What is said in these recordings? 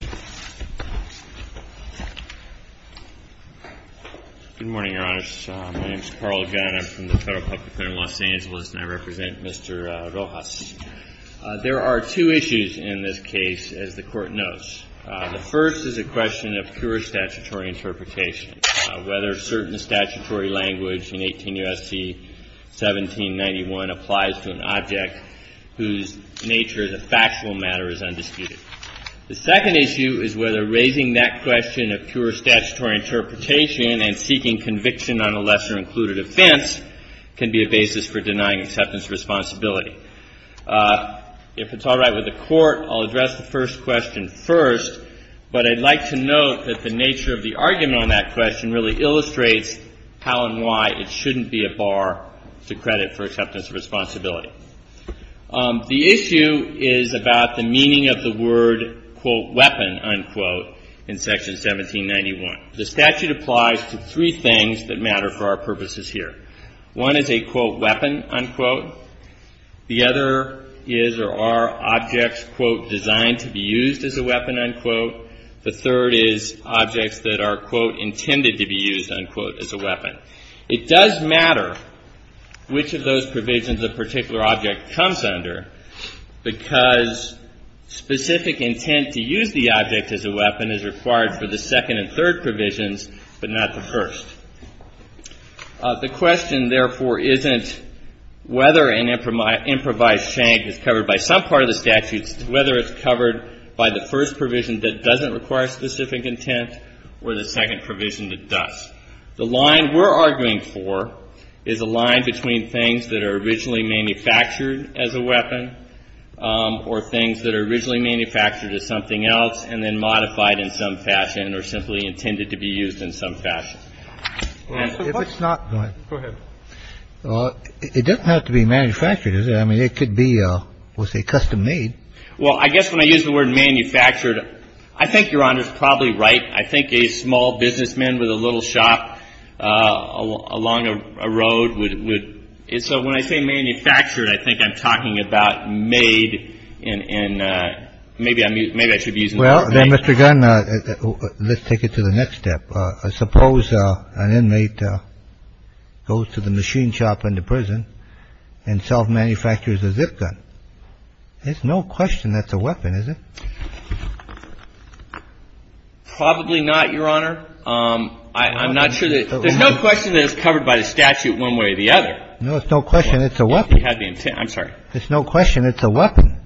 Good morning, Your Honors. My name is Carl Gunn. I'm from the Federal Public Center in Los Angeles, and I represent Mr. Rojas. There are two issues in this case, as the Court knows. The first is a question of pure statutory interpretation, whether certain statutory language in 18 U.S.C. 1791 applies to an object whose nature as a factual matter is undisputed. The second issue is whether raising that question of pure statutory interpretation and seeking conviction on a lesser-included offense can be a basis for denying acceptance of responsibility. If it's all right with the Court, I'll address the first question first, but I'd like to note that the nature of the argument on that question really illustrates how and why it shouldn't be a bar to credit for acceptance of responsibility. The issue is about the meaning of the word, quote, weapon, unquote, in Section 1791. The statute applies to three things that matter for our purposes here. One is a, quote, weapon, unquote. The other is or are objects, quote, designed to be used as a weapon, unquote. The third is objects that are, quote, intended to be used, unquote, as a weapon. It does matter which of those provisions a particular object comes under because specific intent to use the object as a weapon is required for the second and third provisions, but not the first. The question, therefore, isn't whether an improvised shank is covered by some part of the statute. It's whether it's covered by the first provision that doesn't require specific intent or the second provision that does. The line we're arguing for is a line between things that are originally manufactured as a weapon or things that are originally manufactured as something else and then modified in some fashion or simply intended to be used in some fashion. Go ahead. It doesn't have to be manufactured, does it? I mean, it could be, we'll say, custom-made. Well, I guess when I use the word manufactured, I think Your Honor's probably right. I think a small businessman with a little shop along a road would – so when I say manufactured, I think I'm talking about made in – maybe I should be using the word made. Well, then, Mr. Gunn, let's take it to the next step. Suppose an inmate goes to the machine shop in the prison and self-manufactures a zip gun. There's no question that's a weapon, is there? Probably not, Your Honor. I'm not sure that – there's no question that it's covered by the statute one way or the other. No, there's no question it's a weapon. I'm sorry. There's no question it's a weapon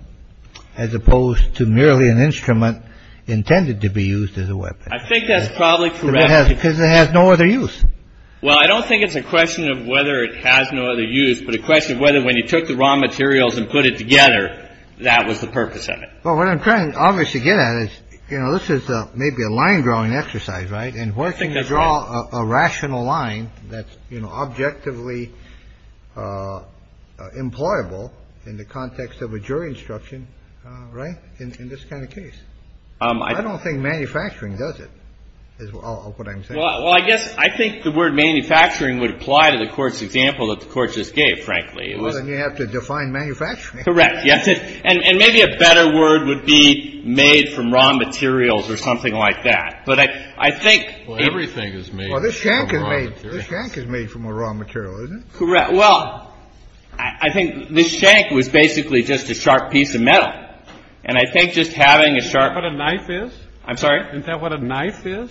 as opposed to merely an instrument intended to be used as a weapon. I think that's probably correct. Because it has no other use. Well, I don't think it's a question of whether it has no other use, but a question of whether when you took the raw materials and put it together, that was the purpose of it. Well, what I'm trying to obviously get at is, you know, this is maybe a line-drawing exercise, right, and working to draw a rational line that's, you know, objectively employable in the context of a jury instruction, right, in this kind of case. I don't think manufacturing does it, is what I'm saying. Well, I guess I think the word manufacturing would apply to the Court's example that the Court just gave, frankly. Well, then you have to define manufacturing. Correct. And maybe a better word would be made from raw materials or something like that. But I think — Well, everything is made from raw materials. Well, this shank is made from a raw material, isn't it? Correct. Well, I think this shank was basically just a sharp piece of metal. And I think just having a sharp — What a knife is? I'm sorry? Isn't that what a knife is,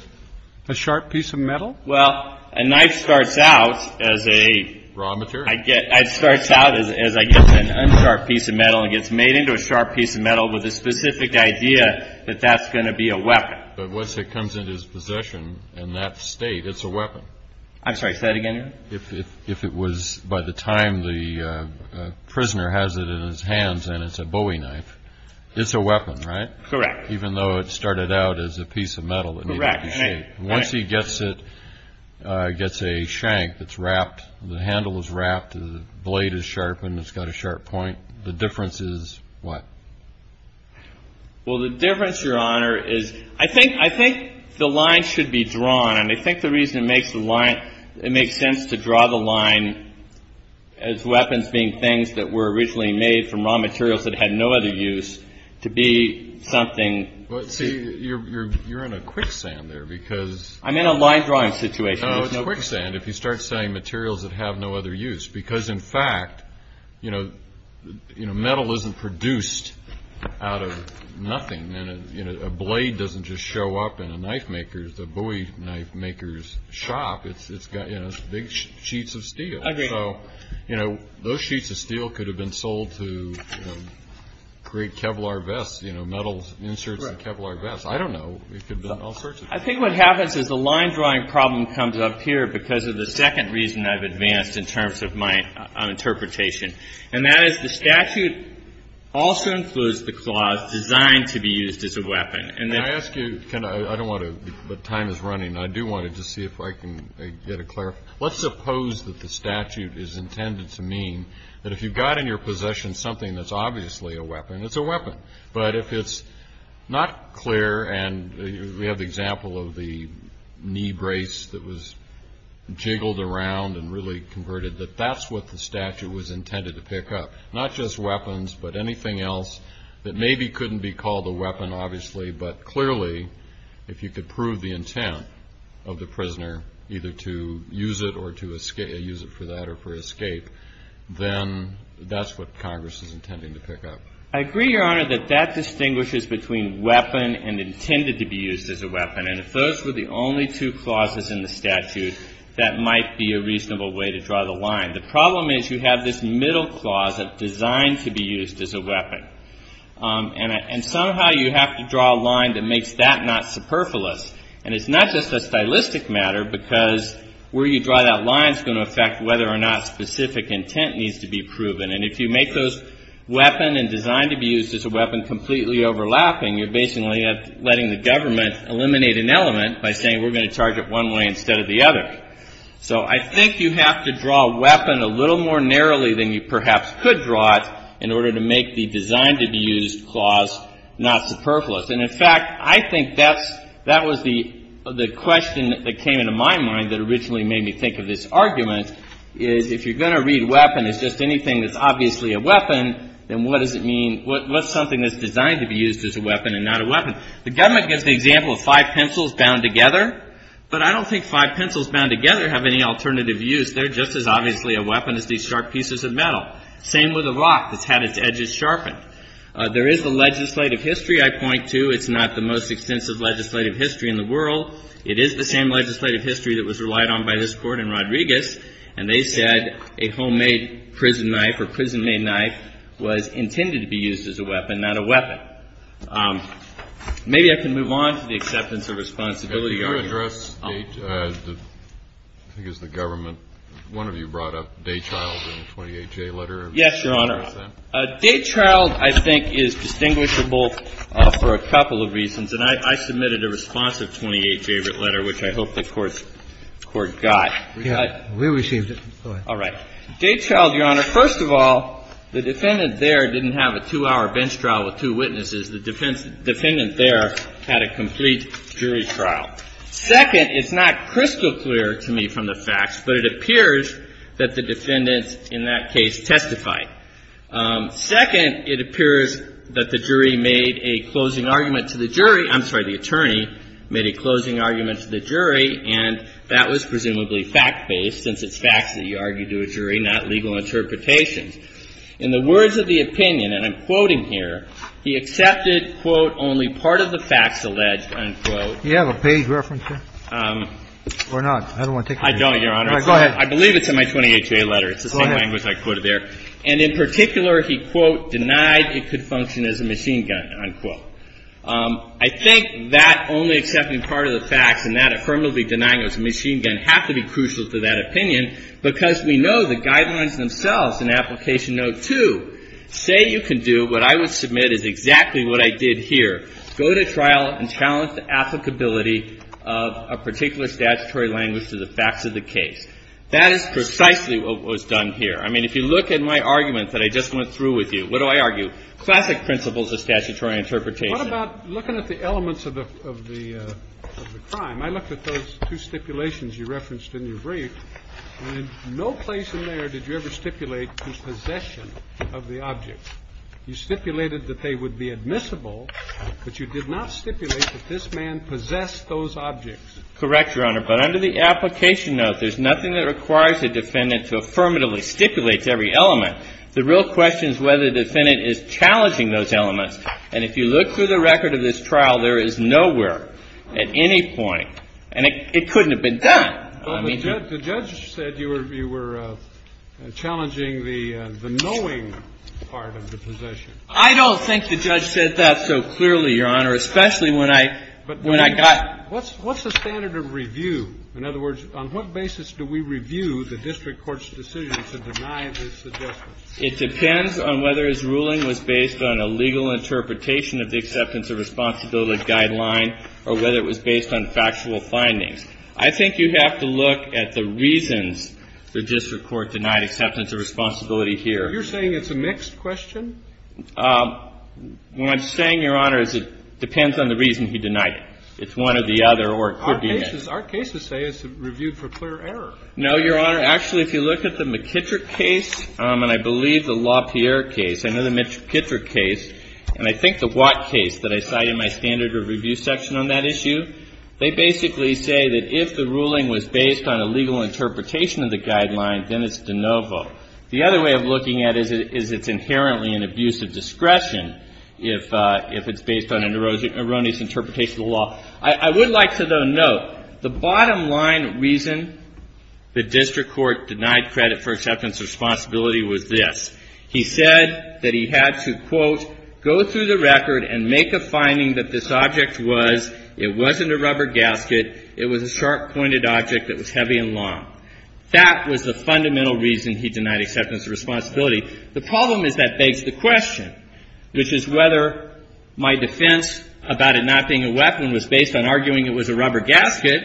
a sharp piece of metal? Well, a knife starts out as a — Raw material. It starts out as, I guess, an unsharp piece of metal and gets made into a sharp piece of metal with a specific idea that that's going to be a weapon. But once it comes into its possession in that state, it's a weapon. I'm sorry, say that again. If it was — by the time the prisoner has it in his hands and it's a Bowie knife, it's a weapon, right? Correct. Even though it started out as a piece of metal that needed to be shaped. Correct. Once he gets it, gets a shank that's wrapped, the handle is wrapped, the blade is sharpened, it's got a sharp point, the difference is what? Well, the difference, Your Honor, is I think the line should be drawn. And I think the reason it makes the line — it makes sense to draw the line as weapons being things that were originally made from raw materials that had no other use to be something — Well, see, you're in a quicksand there because — I'm in a line drawing situation. No, it's quicksand if you start selling materials that have no other use. Because, in fact, you know, metal isn't produced out of nothing. And a blade doesn't just show up in a knife maker's — a Bowie knife maker's shop. It's got, you know, big sheets of steel. Agreed. So, you know, those sheets of steel could have been sold to create Kevlar vests, you know, metal inserts in Kevlar vests. I don't know. It could have been all sorts of things. I think what happens is the line drawing problem comes up here because of the second reason I've advanced in terms of my interpretation. And that is the statute also includes the clause designed to be used as a weapon. Can I ask you — I don't want to — but time is running. I do want to just see if I can get a clarification. Let's suppose that the statute is intended to mean that if you've got in your possession something that's obviously a weapon, it's a weapon. But if it's not clear, and we have the example of the knee brace that was jiggled around and really converted, that that's what the statute was intended to pick up. Not just weapons, but anything else that maybe couldn't be called a weapon, obviously, but clearly if you could prove the intent of the prisoner either to use it or to use it for that or for escape, then that's what Congress is intending to pick up. I agree, Your Honor, that that distinguishes between weapon and intended to be used as a weapon. And if those were the only two clauses in the statute, that might be a reasonable way to draw the line. The problem is you have this middle clause that's designed to be used as a weapon. And somehow you have to draw a line that makes that not superfluous. And it's not just a stylistic matter because where you draw that line is going to affect whether or not specific intent needs to be proven. And if you make those weapon and designed to be used as a weapon completely overlapping, you're basically letting the government eliminate an element by saying we're going to charge it one way instead of the other. So I think you have to draw a weapon a little more narrowly than you perhaps could draw it in order to make the designed to be used clause not superfluous. And, in fact, I think that was the question that came into my mind that originally made me think of this argument, is if you're going to read weapon as just anything that's obviously a weapon, then what does it mean, what's something that's designed to be used as a weapon and not a weapon? The government gives the example of five pencils bound together, but I don't think five pencils bound together have any alternative use. They're just as obviously a weapon as these sharp pieces of metal. Same with a rock that's had its edges sharpened. There is a legislative history I point to. It's not the most extensive legislative history in the world. It is the same legislative history that was relied on by this Court in Rodriguez, and they said a homemade prison knife or prison-made knife was intended to be used as a weapon, not a weapon. So I think the defense is that. Maybe I can move on to the acceptance of responsibility argument. The Court would address the — I think it's the government. One of you brought up Daychild in the 28J letter. Yes, Your Honor. Daychild, I think, is distinguishable for a couple of reasons, and I submitted a responsive 28J letter, which I hope the Court got. We received it. All right. Daychild, Your Honor, first of all, the defendant there didn't have a two-hour bench trial with two witnesses. The defendant there had a complete jury trial. Second, it's not crystal clear to me from the facts, but it appears that the defendants in that case testified. Second, it appears that the jury made a closing argument to the jury — I'm sorry, the attorney made a closing argument to the jury, and that was presumably fact-based, since it's facts that you argue to a jury, not legal interpretations. In the words of the opinion, and I'm quoting here, he accepted, quote, only part of the facts alleged, unquote. Do you have a page reference there? Or not? I don't want to take your time. I don't, Your Honor. All right. Go ahead. I believe it's in my 28J letter. Go ahead. It's the same language I quoted there. And in particular, he, quote, denied it could function as a machine gun, unquote. I think that only accepting part of the facts and that affirmatively denying it was a machine gun have to be crucial to that opinion, because we know the guidelines themselves in Application Note 2 say you can do what I would submit is exactly what I did here, go to trial and challenge the applicability of a particular statutory language to the facts of the case. That is precisely what was done here. I mean, if you look at my argument that I just went through with you, what do I argue? Classic principles of statutory interpretation. What about looking at the elements of the crime? I looked at those two stipulations you referenced in your brief. And in no place in there did you ever stipulate the possession of the object. You stipulated that they would be admissible, but you did not stipulate that this man possessed those objects. Correct, Your Honor. But under the Application Note, there's nothing that requires a defendant to affirmatively stipulate to every element. The real question is whether the defendant is challenging those elements. And if you look through the record of this trial, there is nowhere at any point, and it couldn't have been done. The judge said you were challenging the knowing part of the possession. I don't think the judge said that so clearly, Your Honor, especially when I got. What's the standard of review? In other words, on what basis do we review the district court's decision to deny this suggestion? It depends on whether his ruling was based on a legal interpretation of the acceptance of responsibility guideline or whether it was based on factual findings. I think you have to look at the reasons the district court denied acceptance of responsibility here. You're saying it's a mixed question? What I'm saying, Your Honor, is it depends on the reason he denied it. It's one or the other, or it could be mixed. Our cases say it's reviewed for clear error. No, Your Honor. Actually, if you look at the McKittrick case, and I believe the LaPierre case, I know the McKittrick case, and I think the Watt case that I cite in my standard of review section on that issue, they basically say that if the ruling was based on a legal interpretation of the guideline, then it's de novo. The other way of looking at it is it's inherently an abuse of discretion if it's based on an erroneous interpretation of the law. I would like to note the bottom line reason the district court denied credit for acceptance of responsibility was this. He said that he had to, quote, go through the record and make a finding that this object was, it wasn't a rubber gasket, it was a sharp-pointed object that was heavy and long. That was the fundamental reason he denied acceptance of responsibility. The problem is that begs the question, which is whether my defense about it not being a weapon was based on arguing it was a rubber gasket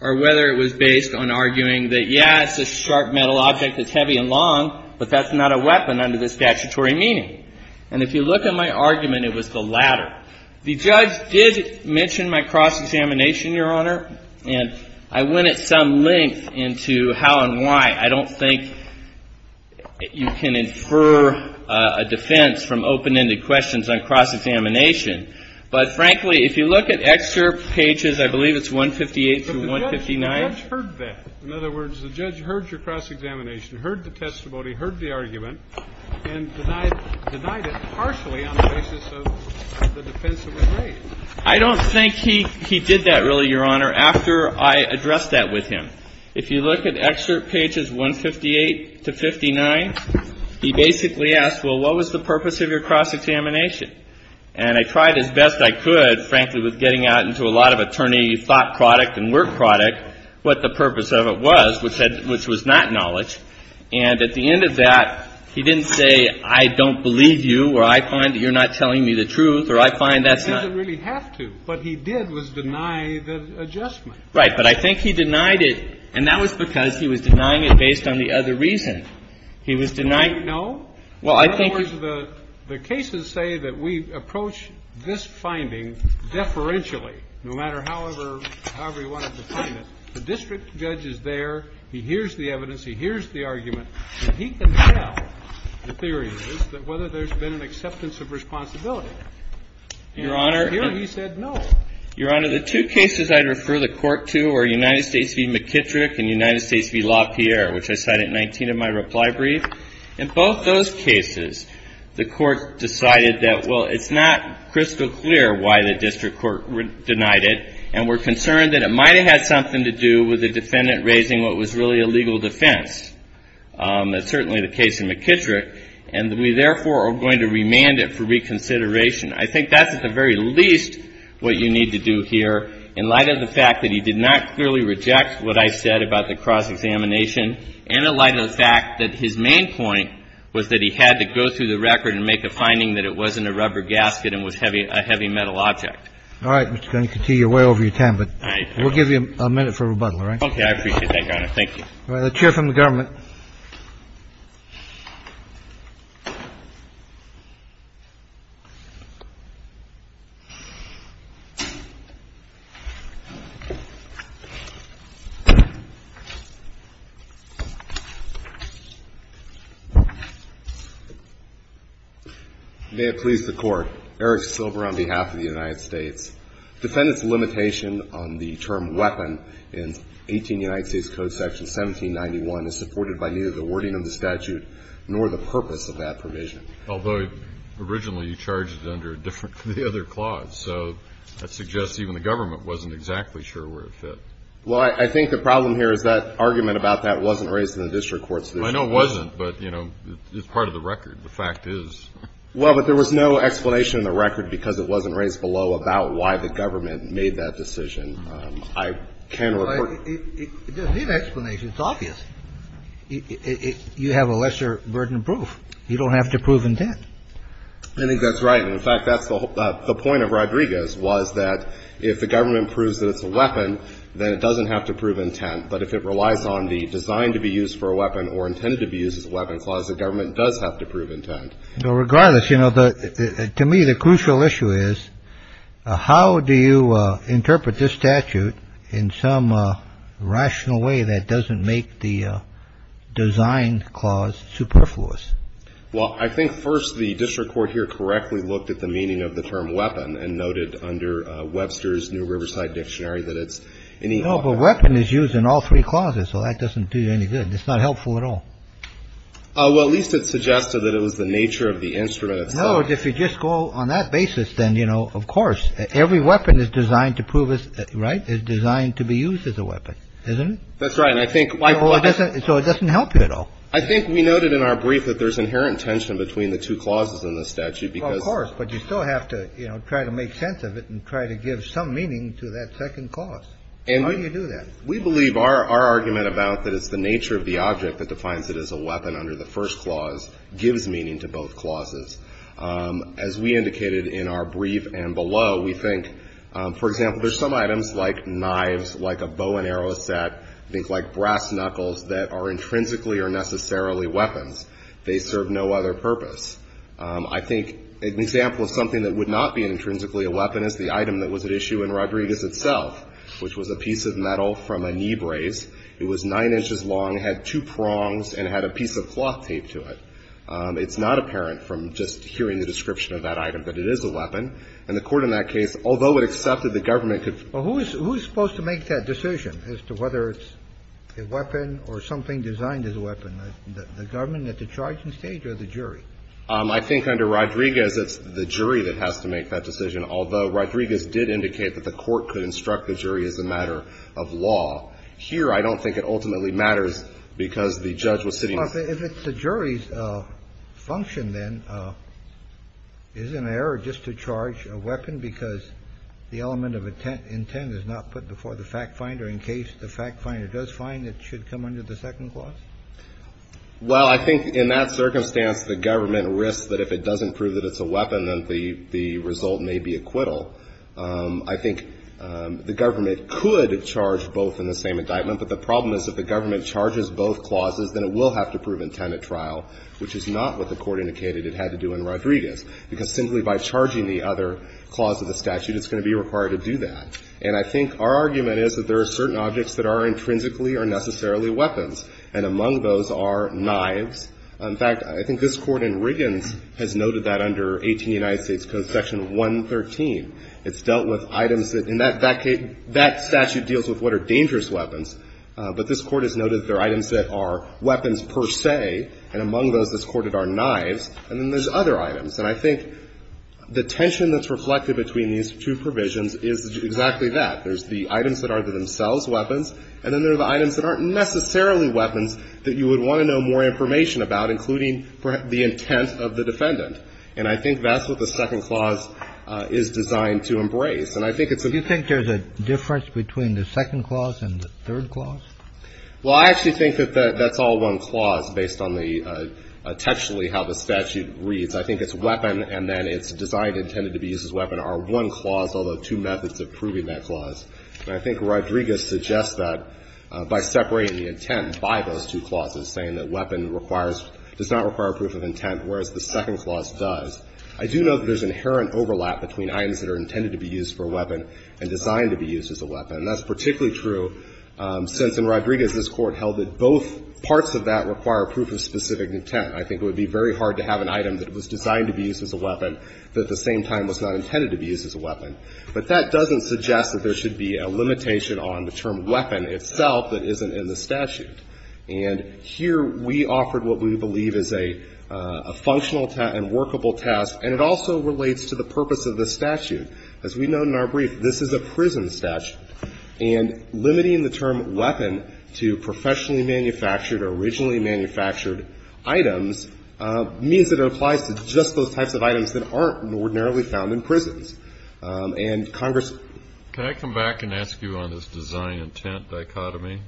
or whether it was based on arguing that, yeah, it's a sharp metal object that's heavy and long, but that's not a weapon under the statutory meaning. And if you look at my argument, it was the latter. The judge did mention my cross-examination, Your Honor, and I went at some length into how and why. I don't think you can infer a defense from open-ended questions on cross-examination. But frankly, if you look at excerpt pages, I believe it's 158 to 159. But the judge heard that. In other words, the judge heard your cross-examination, heard the testimony, heard the argument, and denied it partially on the basis of the defense that was raised. I don't think he did that really, Your Honor, after I addressed that with him. If you look at excerpt pages 158 to 59, he basically asked, well, what was the purpose of your cross-examination? And I tried as best I could, frankly, with getting out into a lot of attorney thought product and work product, what the purpose of it was, which was not knowledge. And at the end of that, he didn't say, I don't believe you, or I find that you're not telling me the truth, or I find that's not. He didn't really have to. What he did was deny the adjustment. Right. But I think he denied it, and that was because he was denying it based on the other reason. He was denying. No. Well, I think the cases say that we approach this finding deferentially, no matter however you want to define it. The district judge is there. He hears the evidence. He hears the argument. And he can tell, the theory is, that whether there's been an acceptance of responsibility. Your Honor. And here he said no. Your Honor, the two cases I'd refer the Court to were United States v. McKittrick and United States v. LaPierre, which I cite at 19 of my reply brief. In both those cases, the Court decided that, well, it's not crystal clear why the district court denied it. And we're concerned that it might have had something to do with the defendant raising what was really a legal defense. That's certainly the case in McKittrick. And we, therefore, are going to remand it for reconsideration. I think that's at the very least what you need to do here in light of the fact that he did not clearly reject what I said about the cross-examination and in light of the fact that his main point was that he had to go through the record and make a finding that it wasn't a rubber gasket and was a heavy metal object. All right, Mr. Kennedy. You're way over your time, but we'll give you a minute for rebuttal, all right? Okay. I appreciate that, Your Honor. Thank you. All right, a chair from the government. May it please the Court. Eric Silver on behalf of the United States. Defendant's limitation on the term weapon in 18 United States Code section 1791 is supported by neither the wording of the statute nor the purpose of that provision. Although, originally, you charged it under a different clause. So that suggests even the government wasn't exactly sure where it fit. Well, I think the problem here is that argument about that wasn't raised in the district court's decision. I know it wasn't, but, you know, it's part of the record. The fact is. Well, but there was no explanation in the record because it wasn't raised below about why the government made that decision. I can't report. It doesn't need explanation. It's obvious. You have a lesser burden of proof. You don't have to prove intent. I think that's right. And, in fact, that's the point of Rodriguez was that if the government proves that it's a weapon, then it doesn't have to prove intent. But if it relies on the design to be used for a weapon or intended to be used as a weapon clause, the government does have to prove intent. Regardless, you know, to me, the crucial issue is how do you interpret this statute in some rational way that doesn't make the design clause superfluous? Well, I think, first, the district court here correctly looked at the meaning of the term weapon and noted under Webster's New Riverside Dictionary that it's any of a weapon is used in all three clauses. So that doesn't do any good. It's not helpful at all. Well, at least it suggested that it was the nature of the instrument itself. No. If you just go on that basis, then, you know, of course, every weapon is designed to prove its right, is designed to be used as a weapon, isn't it? That's right. And I think why it doesn't. So it doesn't help you at all. I think we noted in our brief that there's inherent tension between the two clauses in the statute because. Of course. But you still have to, you know, try to make sense of it and try to give some meaning to that second clause. And how do you do that? We believe our argument about that it's the nature of the object that defines it as a weapon under the first clause gives meaning to both clauses. As we indicated in our brief and below, we think, for example, there's some items like knives, like a bow and arrow set, I think like brass knuckles, that are intrinsically or necessarily weapons. They serve no other purpose. I think an example of something that would not be intrinsically a weapon is the item that was at issue in Rodriguez itself, which was a piece of metal from a knee brace. It was 9 inches long, had two prongs, and had a piece of cloth taped to it. It's not apparent from just hearing the description of that item that it is a weapon. And the Court in that case, although it accepted the government could. Well, who is supposed to make that decision as to whether it's a weapon or something designed as a weapon? The government at the charging stage or the jury? I think under Rodriguez, it's the jury that has to make that decision, although Rodriguez did indicate that the Court could instruct the jury as a matter of law. Here, I don't think it ultimately matters because the judge was sitting. If it's the jury's function, then, is it an error just to charge a weapon because the element of intent is not put before the fact finder in case the fact finder does find it should come under the second clause? Well, I think in that circumstance, the government risks that if it doesn't prove that it's a weapon, then the result may be acquittal. I think the government could charge both in the same indictment, but the problem is if the government charges both clauses, then it will have to prove intent at trial, which is not what the Court indicated it had to do in Rodriguez, because simply by charging the other clause of the statute, it's going to be required to do that. And I think our argument is that there are certain objects that are intrinsically or necessarily weapons, and among those are knives. In fact, I think this Court in Riggins has noted that under 18 United States Code section 113. It's dealt with items that, in that case, that statute deals with what are dangerous weapons, but this Court has noted that there are items that are weapons per se, and among those this Court had are knives, and then there's other items. And I think the tension that's reflected between these two provisions is exactly that. There's the items that are themselves weapons, and then there are the items that aren't necessarily weapons that you would want to know more information about, including the intent of the defendant. And I think that's what the second clause is designed to embrace. And I think it's a bit of a difference between the second clause and the third clause. Well, I actually think that that's all one clause based on the textually how the statute reads. I think it's weapon and then it's designed and intended to be used as weapon are one clause, although two methods of proving that clause. And I think Rodriguez suggests that by separating the intent by those two clauses, saying that weapon requires or does not require proof of intent, whereas the second clause does. I do note that there's inherent overlap between items that are intended to be used for a weapon and designed to be used as a weapon. And that's particularly true since in Rodriguez this Court held that both parts of that require proof of specific intent. I think it would be very hard to have an item that was designed to be used as a weapon that at the same time was not intended to be used as a weapon. But that doesn't suggest that there should be a limitation on the term weapon itself that isn't in the statute. And here we offered what we believe is a functional and workable task, and it also relates to the purpose of the statute. As we note in our brief, this is a prison statute, and limiting the term weapon to professionally manufactured or originally manufactured items means that it applies to just those types of items that aren't ordinarily found in prisons. And Congress ---- Kennedy. Can I come back and ask you on this design intent dichotomy?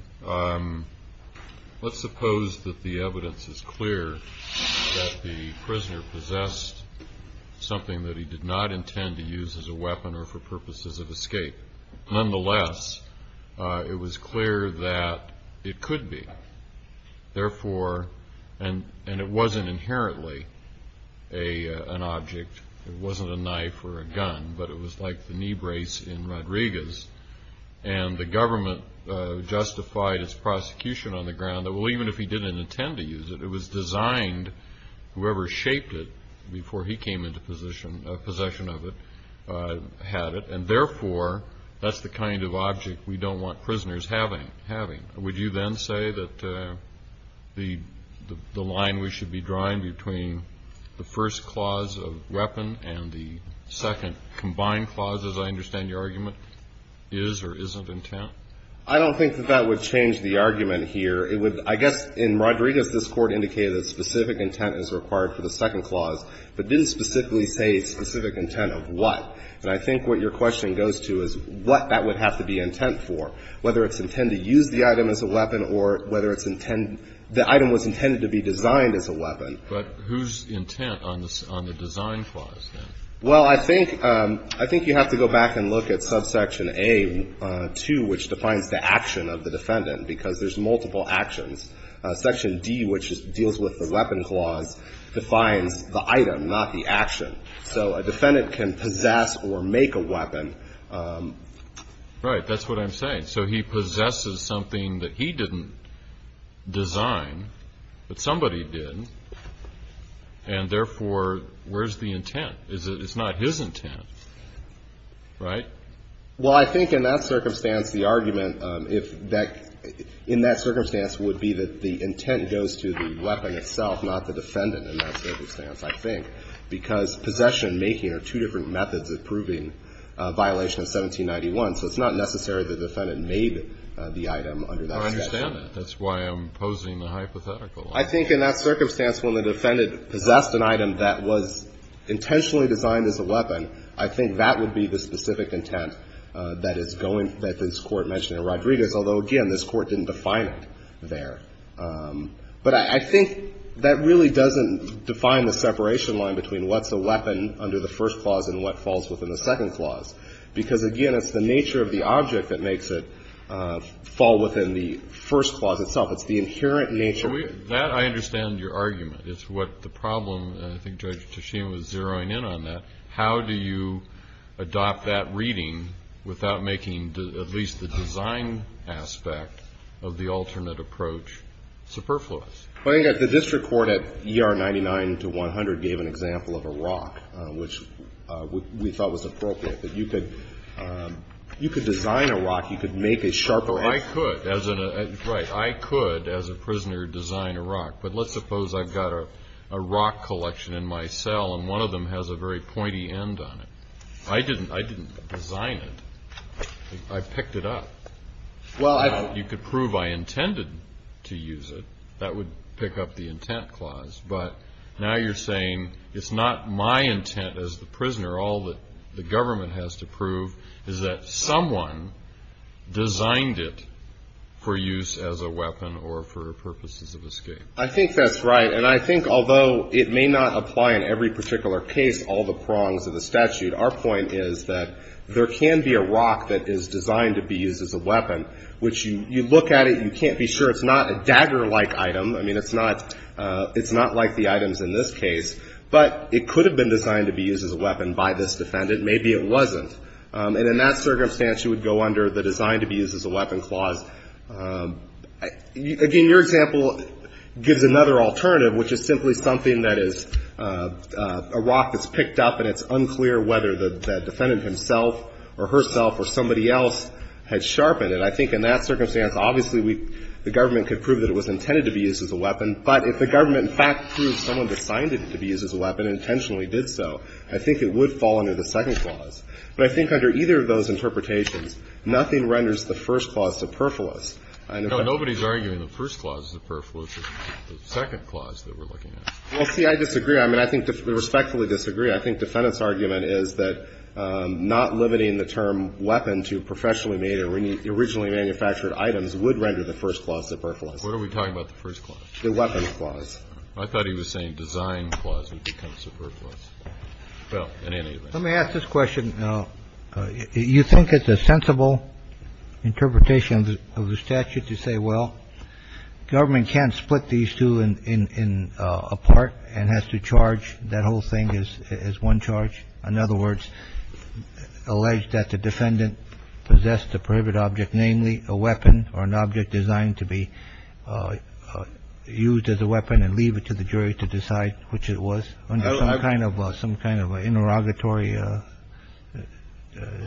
Let's suppose that the evidence is clear that the prisoner possessed something that he did not intend to use as a weapon or for purposes of escape. Nonetheless, it was clear that it could be. Therefore, and it wasn't inherently an object, it wasn't a knife or a gun, but it was like the knee brace in Rodriguez, and the government justified its prosecution on the ground that, well, even if he didn't intend to use it, it was designed, whoever shaped it before he came into possession of it, had it. And therefore, that's the kind of object we don't want prisoners having. Would you then say that the line we should be drawing between the first clause of weapon and the second combined clause, as I understand your argument, is or isn't intent? I don't think that that would change the argument here. It would, I guess, in Rodriguez, this Court indicated that specific intent is required for the second clause, but didn't specifically say specific intent of what. And I think what your question goes to is what that would have to be intent for, whether it's intent to use the item as a weapon or whether it's intent, the item was intended to be designed as a weapon. But whose intent on the design clause, then? Well, I think, I think you have to go back and look at subsection A-2, which defines the action of the defendant, because there's multiple actions. Section D, which deals with the weapon clause, defines the item, not the action. So a defendant can possess or make a weapon. Right. That's what I'm saying. So he possesses something that he didn't design, but somebody did, and therefore, where's the intent? It's not his intent, right? Well, I think in that circumstance, the argument if that, in that circumstance would be that the intent goes to the weapon itself, not the defendant in that circumstance, I think, because possession, making are two different methods of proving a violation of 1791. So it's not necessary the defendant made the item under that circumstance. I understand that. That's why I'm posing the hypothetical. I think in that circumstance, when the defendant possessed an item that was intentionally designed as a weapon, I think that would be the specific intent that is going, that this Court mentioned in Rodriguez, although, again, this Court didn't define it there. But I think that really doesn't define the separation line between what's a weapon under the first clause and what falls within the second clause, because, again, it's the nature of the object that makes it fall within the first clause itself. It's the inherent nature. That, I understand your argument. It's what the problem, and I think Judge Tasheem was zeroing in on that. How do you adopt that reading without making at least the design aspect of the alternate approach superfluous? But I think that the district court at ER 99 to 100 gave an example of a rock, which we thought was appropriate, that you could design a rock. You could make a sharper edge. Well, I could. Right. I could, as a prisoner, design a rock. But let's suppose I've got a rock collection in my cell, and one of them has a very pointy end on it. I didn't design it. I picked it up. Well, I've You could prove I intended to use it. That would pick up the intent clause. But now you're saying it's not my intent as the prisoner. All that the government has to prove is that someone designed it for use as a weapon or for purposes of escape. I think that's right, and I think, although it may not apply in every particular case, all the prongs of the statute, our point is that there can be a rock that is designed to be used as a weapon, which you look at it, you can't be sure. It's not a dagger-like item. I mean, it's not like the items in this case. But it could have been designed to be used as a weapon by this defendant. Maybe it wasn't. And in that circumstance, you would go under the designed to be used as a weapon clause. Again, your example gives another alternative, which is simply something that is a rock that's picked up and it's unclear whether the defendant himself or herself or somebody else had sharpened it. I think in that circumstance, obviously, the government could prove that it was intended to be used as a weapon. But if the government, in fact, proved someone designed it to be used as a weapon and intentionally did so, I think it would fall under the second clause. But I think under either of those interpretations, nothing renders the first clause superfluous. I know that. No, nobody's arguing the first clause is superfluous. It's the second clause that we're looking at. Well, see, I disagree. I mean, I think we respectfully disagree. I think defendant's argument is that not limiting the term weapon to professionally made or originally manufactured items would render the first clause superfluous. What are we talking about, the first clause? The weapons clause. I thought he was saying design clause would become superfluous. Well, in any event. Let me ask this question. You think it's a sensible interpretation of the statute to say, well, government can't split these two apart and has to charge that whole thing as one charge? In other words, allege that the defendant possessed a prohibited object, namely a weapon or an object designed to be used as a weapon and leave it to the jury to decide which it was under some kind of interrogatory.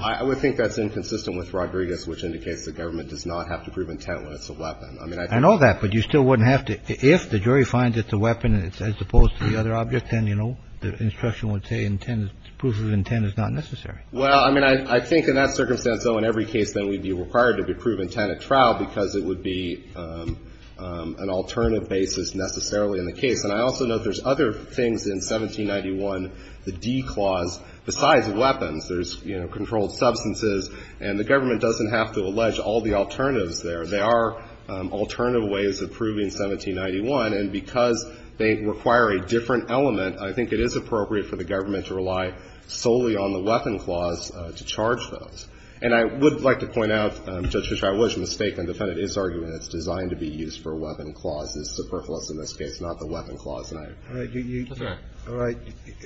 I would think that's inconsistent with Rodriguez, which indicates the government does not have to prove intent when it's a weapon. I know that, but you still wouldn't have to. If the jury finds it's a weapon and it's as opposed to the other object, then, you know, the instruction would say intent, proof of intent is not necessary. Well, I mean, I think in that circumstance, though, in every case, then we'd be required to prove intent at trial because it would be an alternative basis necessarily in the case. And I also note there's other things in 1791, the D clause. Besides weapons, there's, you know, controlled substances, and the government doesn't have to allege all the alternatives there. There are alternative ways of proving 1791. And because they require a different element, I think it is appropriate for the government to rely solely on the weapon clause to charge those. And I would like to point out, Judge Fischer, I was mistaken. The defendant is arguing it's designed to be used for a weapon clause. It's superfluous in this case, not the weapon clause. And I'm sorry. All right.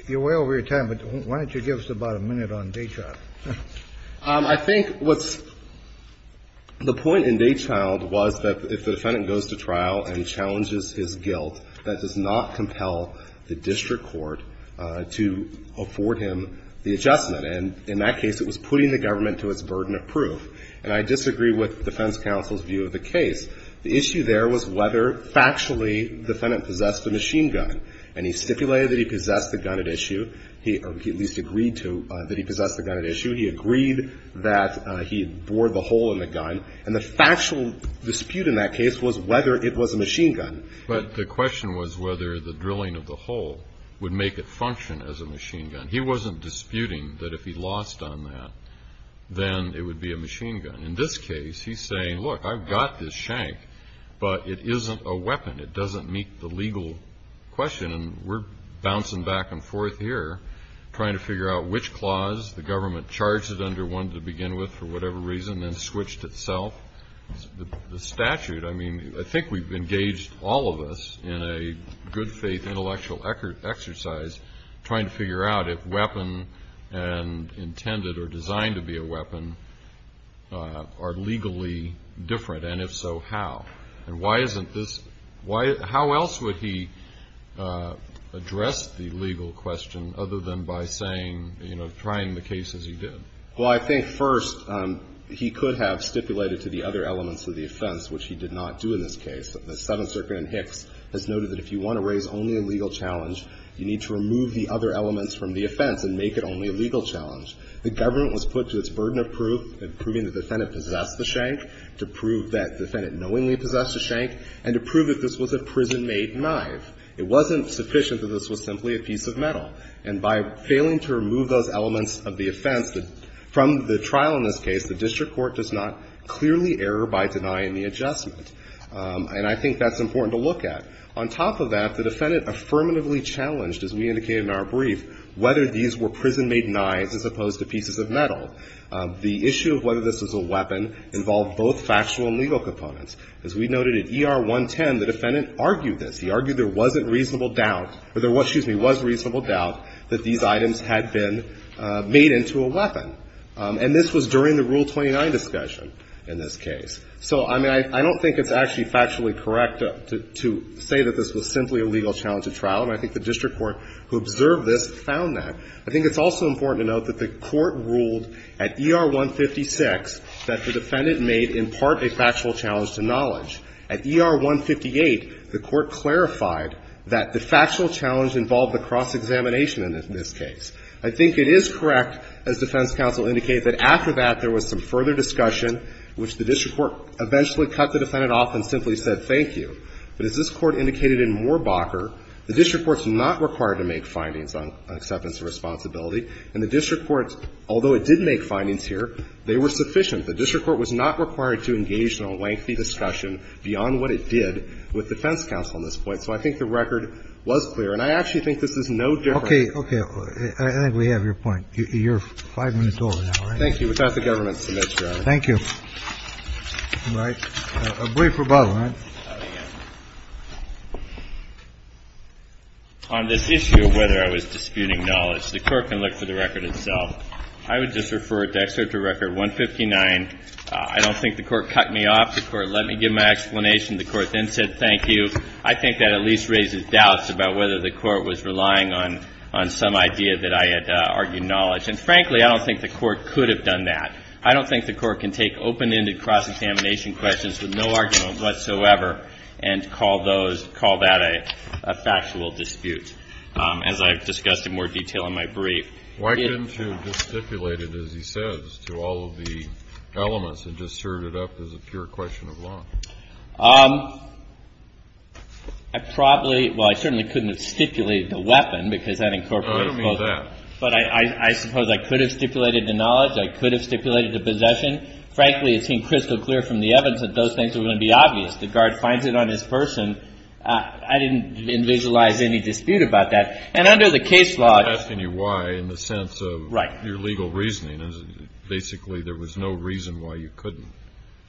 You're way over your time, but why don't you give us about a minute on Dachau? I think what's the point in Dachau was that if the defendant goes to trial and challenges his guilt, that does not compel the district court to afford him the adjustment. And in that case, it was putting the government to its burden of proof. And I disagree with defense counsel's view of the case. The issue there was whether factually the defendant possessed a machine gun. And he stipulated that he possessed the gun at issue. He at least agreed to that he possessed the gun at issue. He agreed that he bore the hole in the gun. And the factual dispute in that case was whether it was a machine gun. But the question was whether the drilling of the hole would make it function as a machine gun. He wasn't disputing that if he lost on that, then it would be a machine gun. In this case, he's saying, look, I've got this shank, but it isn't a weapon. It doesn't meet the legal question. And we're bouncing back and forth here trying to figure out which clause the government charged it under, one to begin with, for whatever reason, then switched itself. The statute, I mean, I think we've engaged, all of us, in a good faith intellectual exercise, trying to figure out if weapon and intended or designed to be a weapon are legally different. And if so, how? And why isn't this? How else would he address the legal question other than by saying, you know, trying the case as he did? Well, I think, first, he could have stipulated to the other elements of the offense, which he did not do in this case. The Seventh Circuit in Hicks has noted that if you want to raise only a legal challenge, you need to remove the other elements from the offense and make it only a legal challenge. The government was put to its burden of proof in proving the defendant possessed the shank to prove that the defendant knowingly possessed the shank and to prove that this was a prison-made knife. It wasn't sufficient that this was simply a piece of metal. And by failing to remove those elements of the offense from the trial in this case, the district court does not clearly err by denying the adjustment. And I think that's important to look at. On top of that, the defendant affirmatively challenged, as we indicated in our brief, The issue of whether this was a weapon involved both factual and legal components. As we noted at ER 110, the defendant argued this. He argued there wasn't reasonable doubt or there was, excuse me, was reasonable doubt that these items had been made into a weapon. And this was during the Rule 29 discussion in this case. So, I mean, I don't think it's actually factually correct to say that this was simply a legal challenge at trial, and I think the district court who observed this found that. I think it's also important to note that the Court ruled at ER 156 that the defendant made in part a factual challenge to knowledge. At ER 158, the Court clarified that the factual challenge involved the cross-examination in this case. I think it is correct, as defense counsel indicated, that after that there was some further discussion, which the district court eventually cut the defendant off and simply said, thank you. But as this Court indicated in Moorbacher, the district court's not required to make findings on acceptance of responsibility. And the district court, although it did make findings here, they were sufficient. The district court was not required to engage in a lengthy discussion beyond what it did with defense counsel on this point. So I think the record was clear. And I actually think this is no different. Kennedy. Okay. Okay. I think we have your point. You're 5 minutes over now, right? Thank you. Without the government's submission, Your Honor. Thank you. All right. A brief rebuttal, right? On this issue of whether I was disputing knowledge, the court can look for the record itself. I would just refer it to excerpt of record 159. I don't think the court cut me off. The court let me give my explanation. The court then said, thank you. I think that at least raises doubts about whether the court was relying on some idea that I had argued knowledge. And frankly, I don't think the court could have done that. I don't think the court can take open-ended cross-examination questions with no argument whatsoever. And call those, call that a factual dispute. As I've discussed in more detail in my brief. Why couldn't you have just stipulated, as he says, to all of the elements and just served it up as a pure question of law? I probably, well, I certainly couldn't have stipulated the weapon because that incorporates both. I don't mean that. But I suppose I could have stipulated the knowledge. I could have stipulated the possession. Frankly, it seemed crystal clear from the evidence that those things were going to be obvious. The guard finds it on his person. I didn't visualize any dispute about that. And under the case law. I'm asking you why in the sense of. Right. Your legal reasoning. Basically, there was no reason why you couldn't.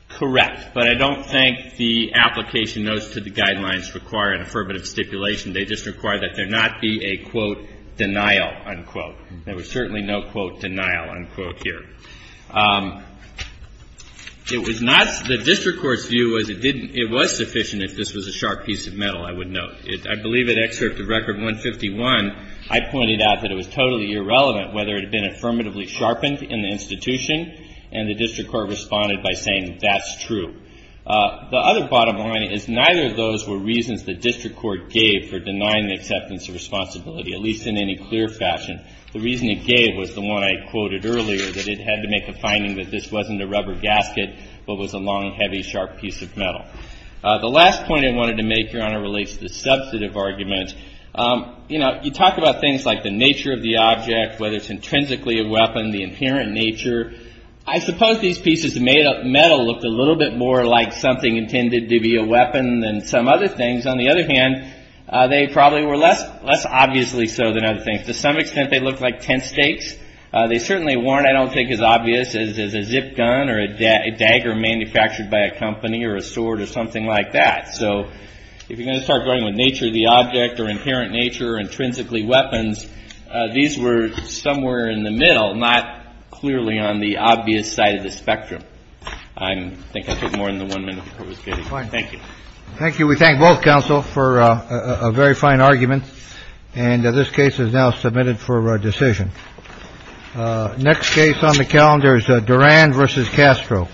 Correct. But I don't think the application notes to the guidelines require an affirmative stipulation. They just require that there not be a, quote, denial, unquote. There was certainly no, quote, denial, unquote, here. It was not. The district court's view was it didn't. It was sufficient if this was a sharp piece of metal, I would note. I believe in Excerpt of Record 151, I pointed out that it was totally irrelevant whether it had been affirmatively sharpened in the institution. And the district court responded by saying that's true. The other bottom line is neither of those were reasons the district court gave for denying the acceptance of responsibility, at least in any clear fashion. The reason it gave was the one I quoted earlier, that it had to make a finding that this wasn't a rubber gasket, but was a long, heavy, sharp piece of metal. The last point I wanted to make, Your Honor, relates to the substantive argument. You know, you talk about things like the nature of the object, whether it's intrinsically a weapon, the inherent nature. I suppose these pieces of metal looked a little bit more like something intended to be a weapon than some other things. On the other hand, they probably were less obviously so than other things. To some extent, they looked like tent stakes. They certainly weren't, I don't think, as obvious as a zip gun or a dagger manufactured by a company or a sword or something like that. So if you're going to start going with nature of the object or inherent nature or intrinsically weapons, these were somewhere in the middle, not clearly on the obvious side of the spectrum. I think I took more than the one minute the Court was getting. Thank you. Thank you. We thank both counsel for a very fine argument. And this case is now submitted for decision. Next case on the calendar is Durand versus Castro.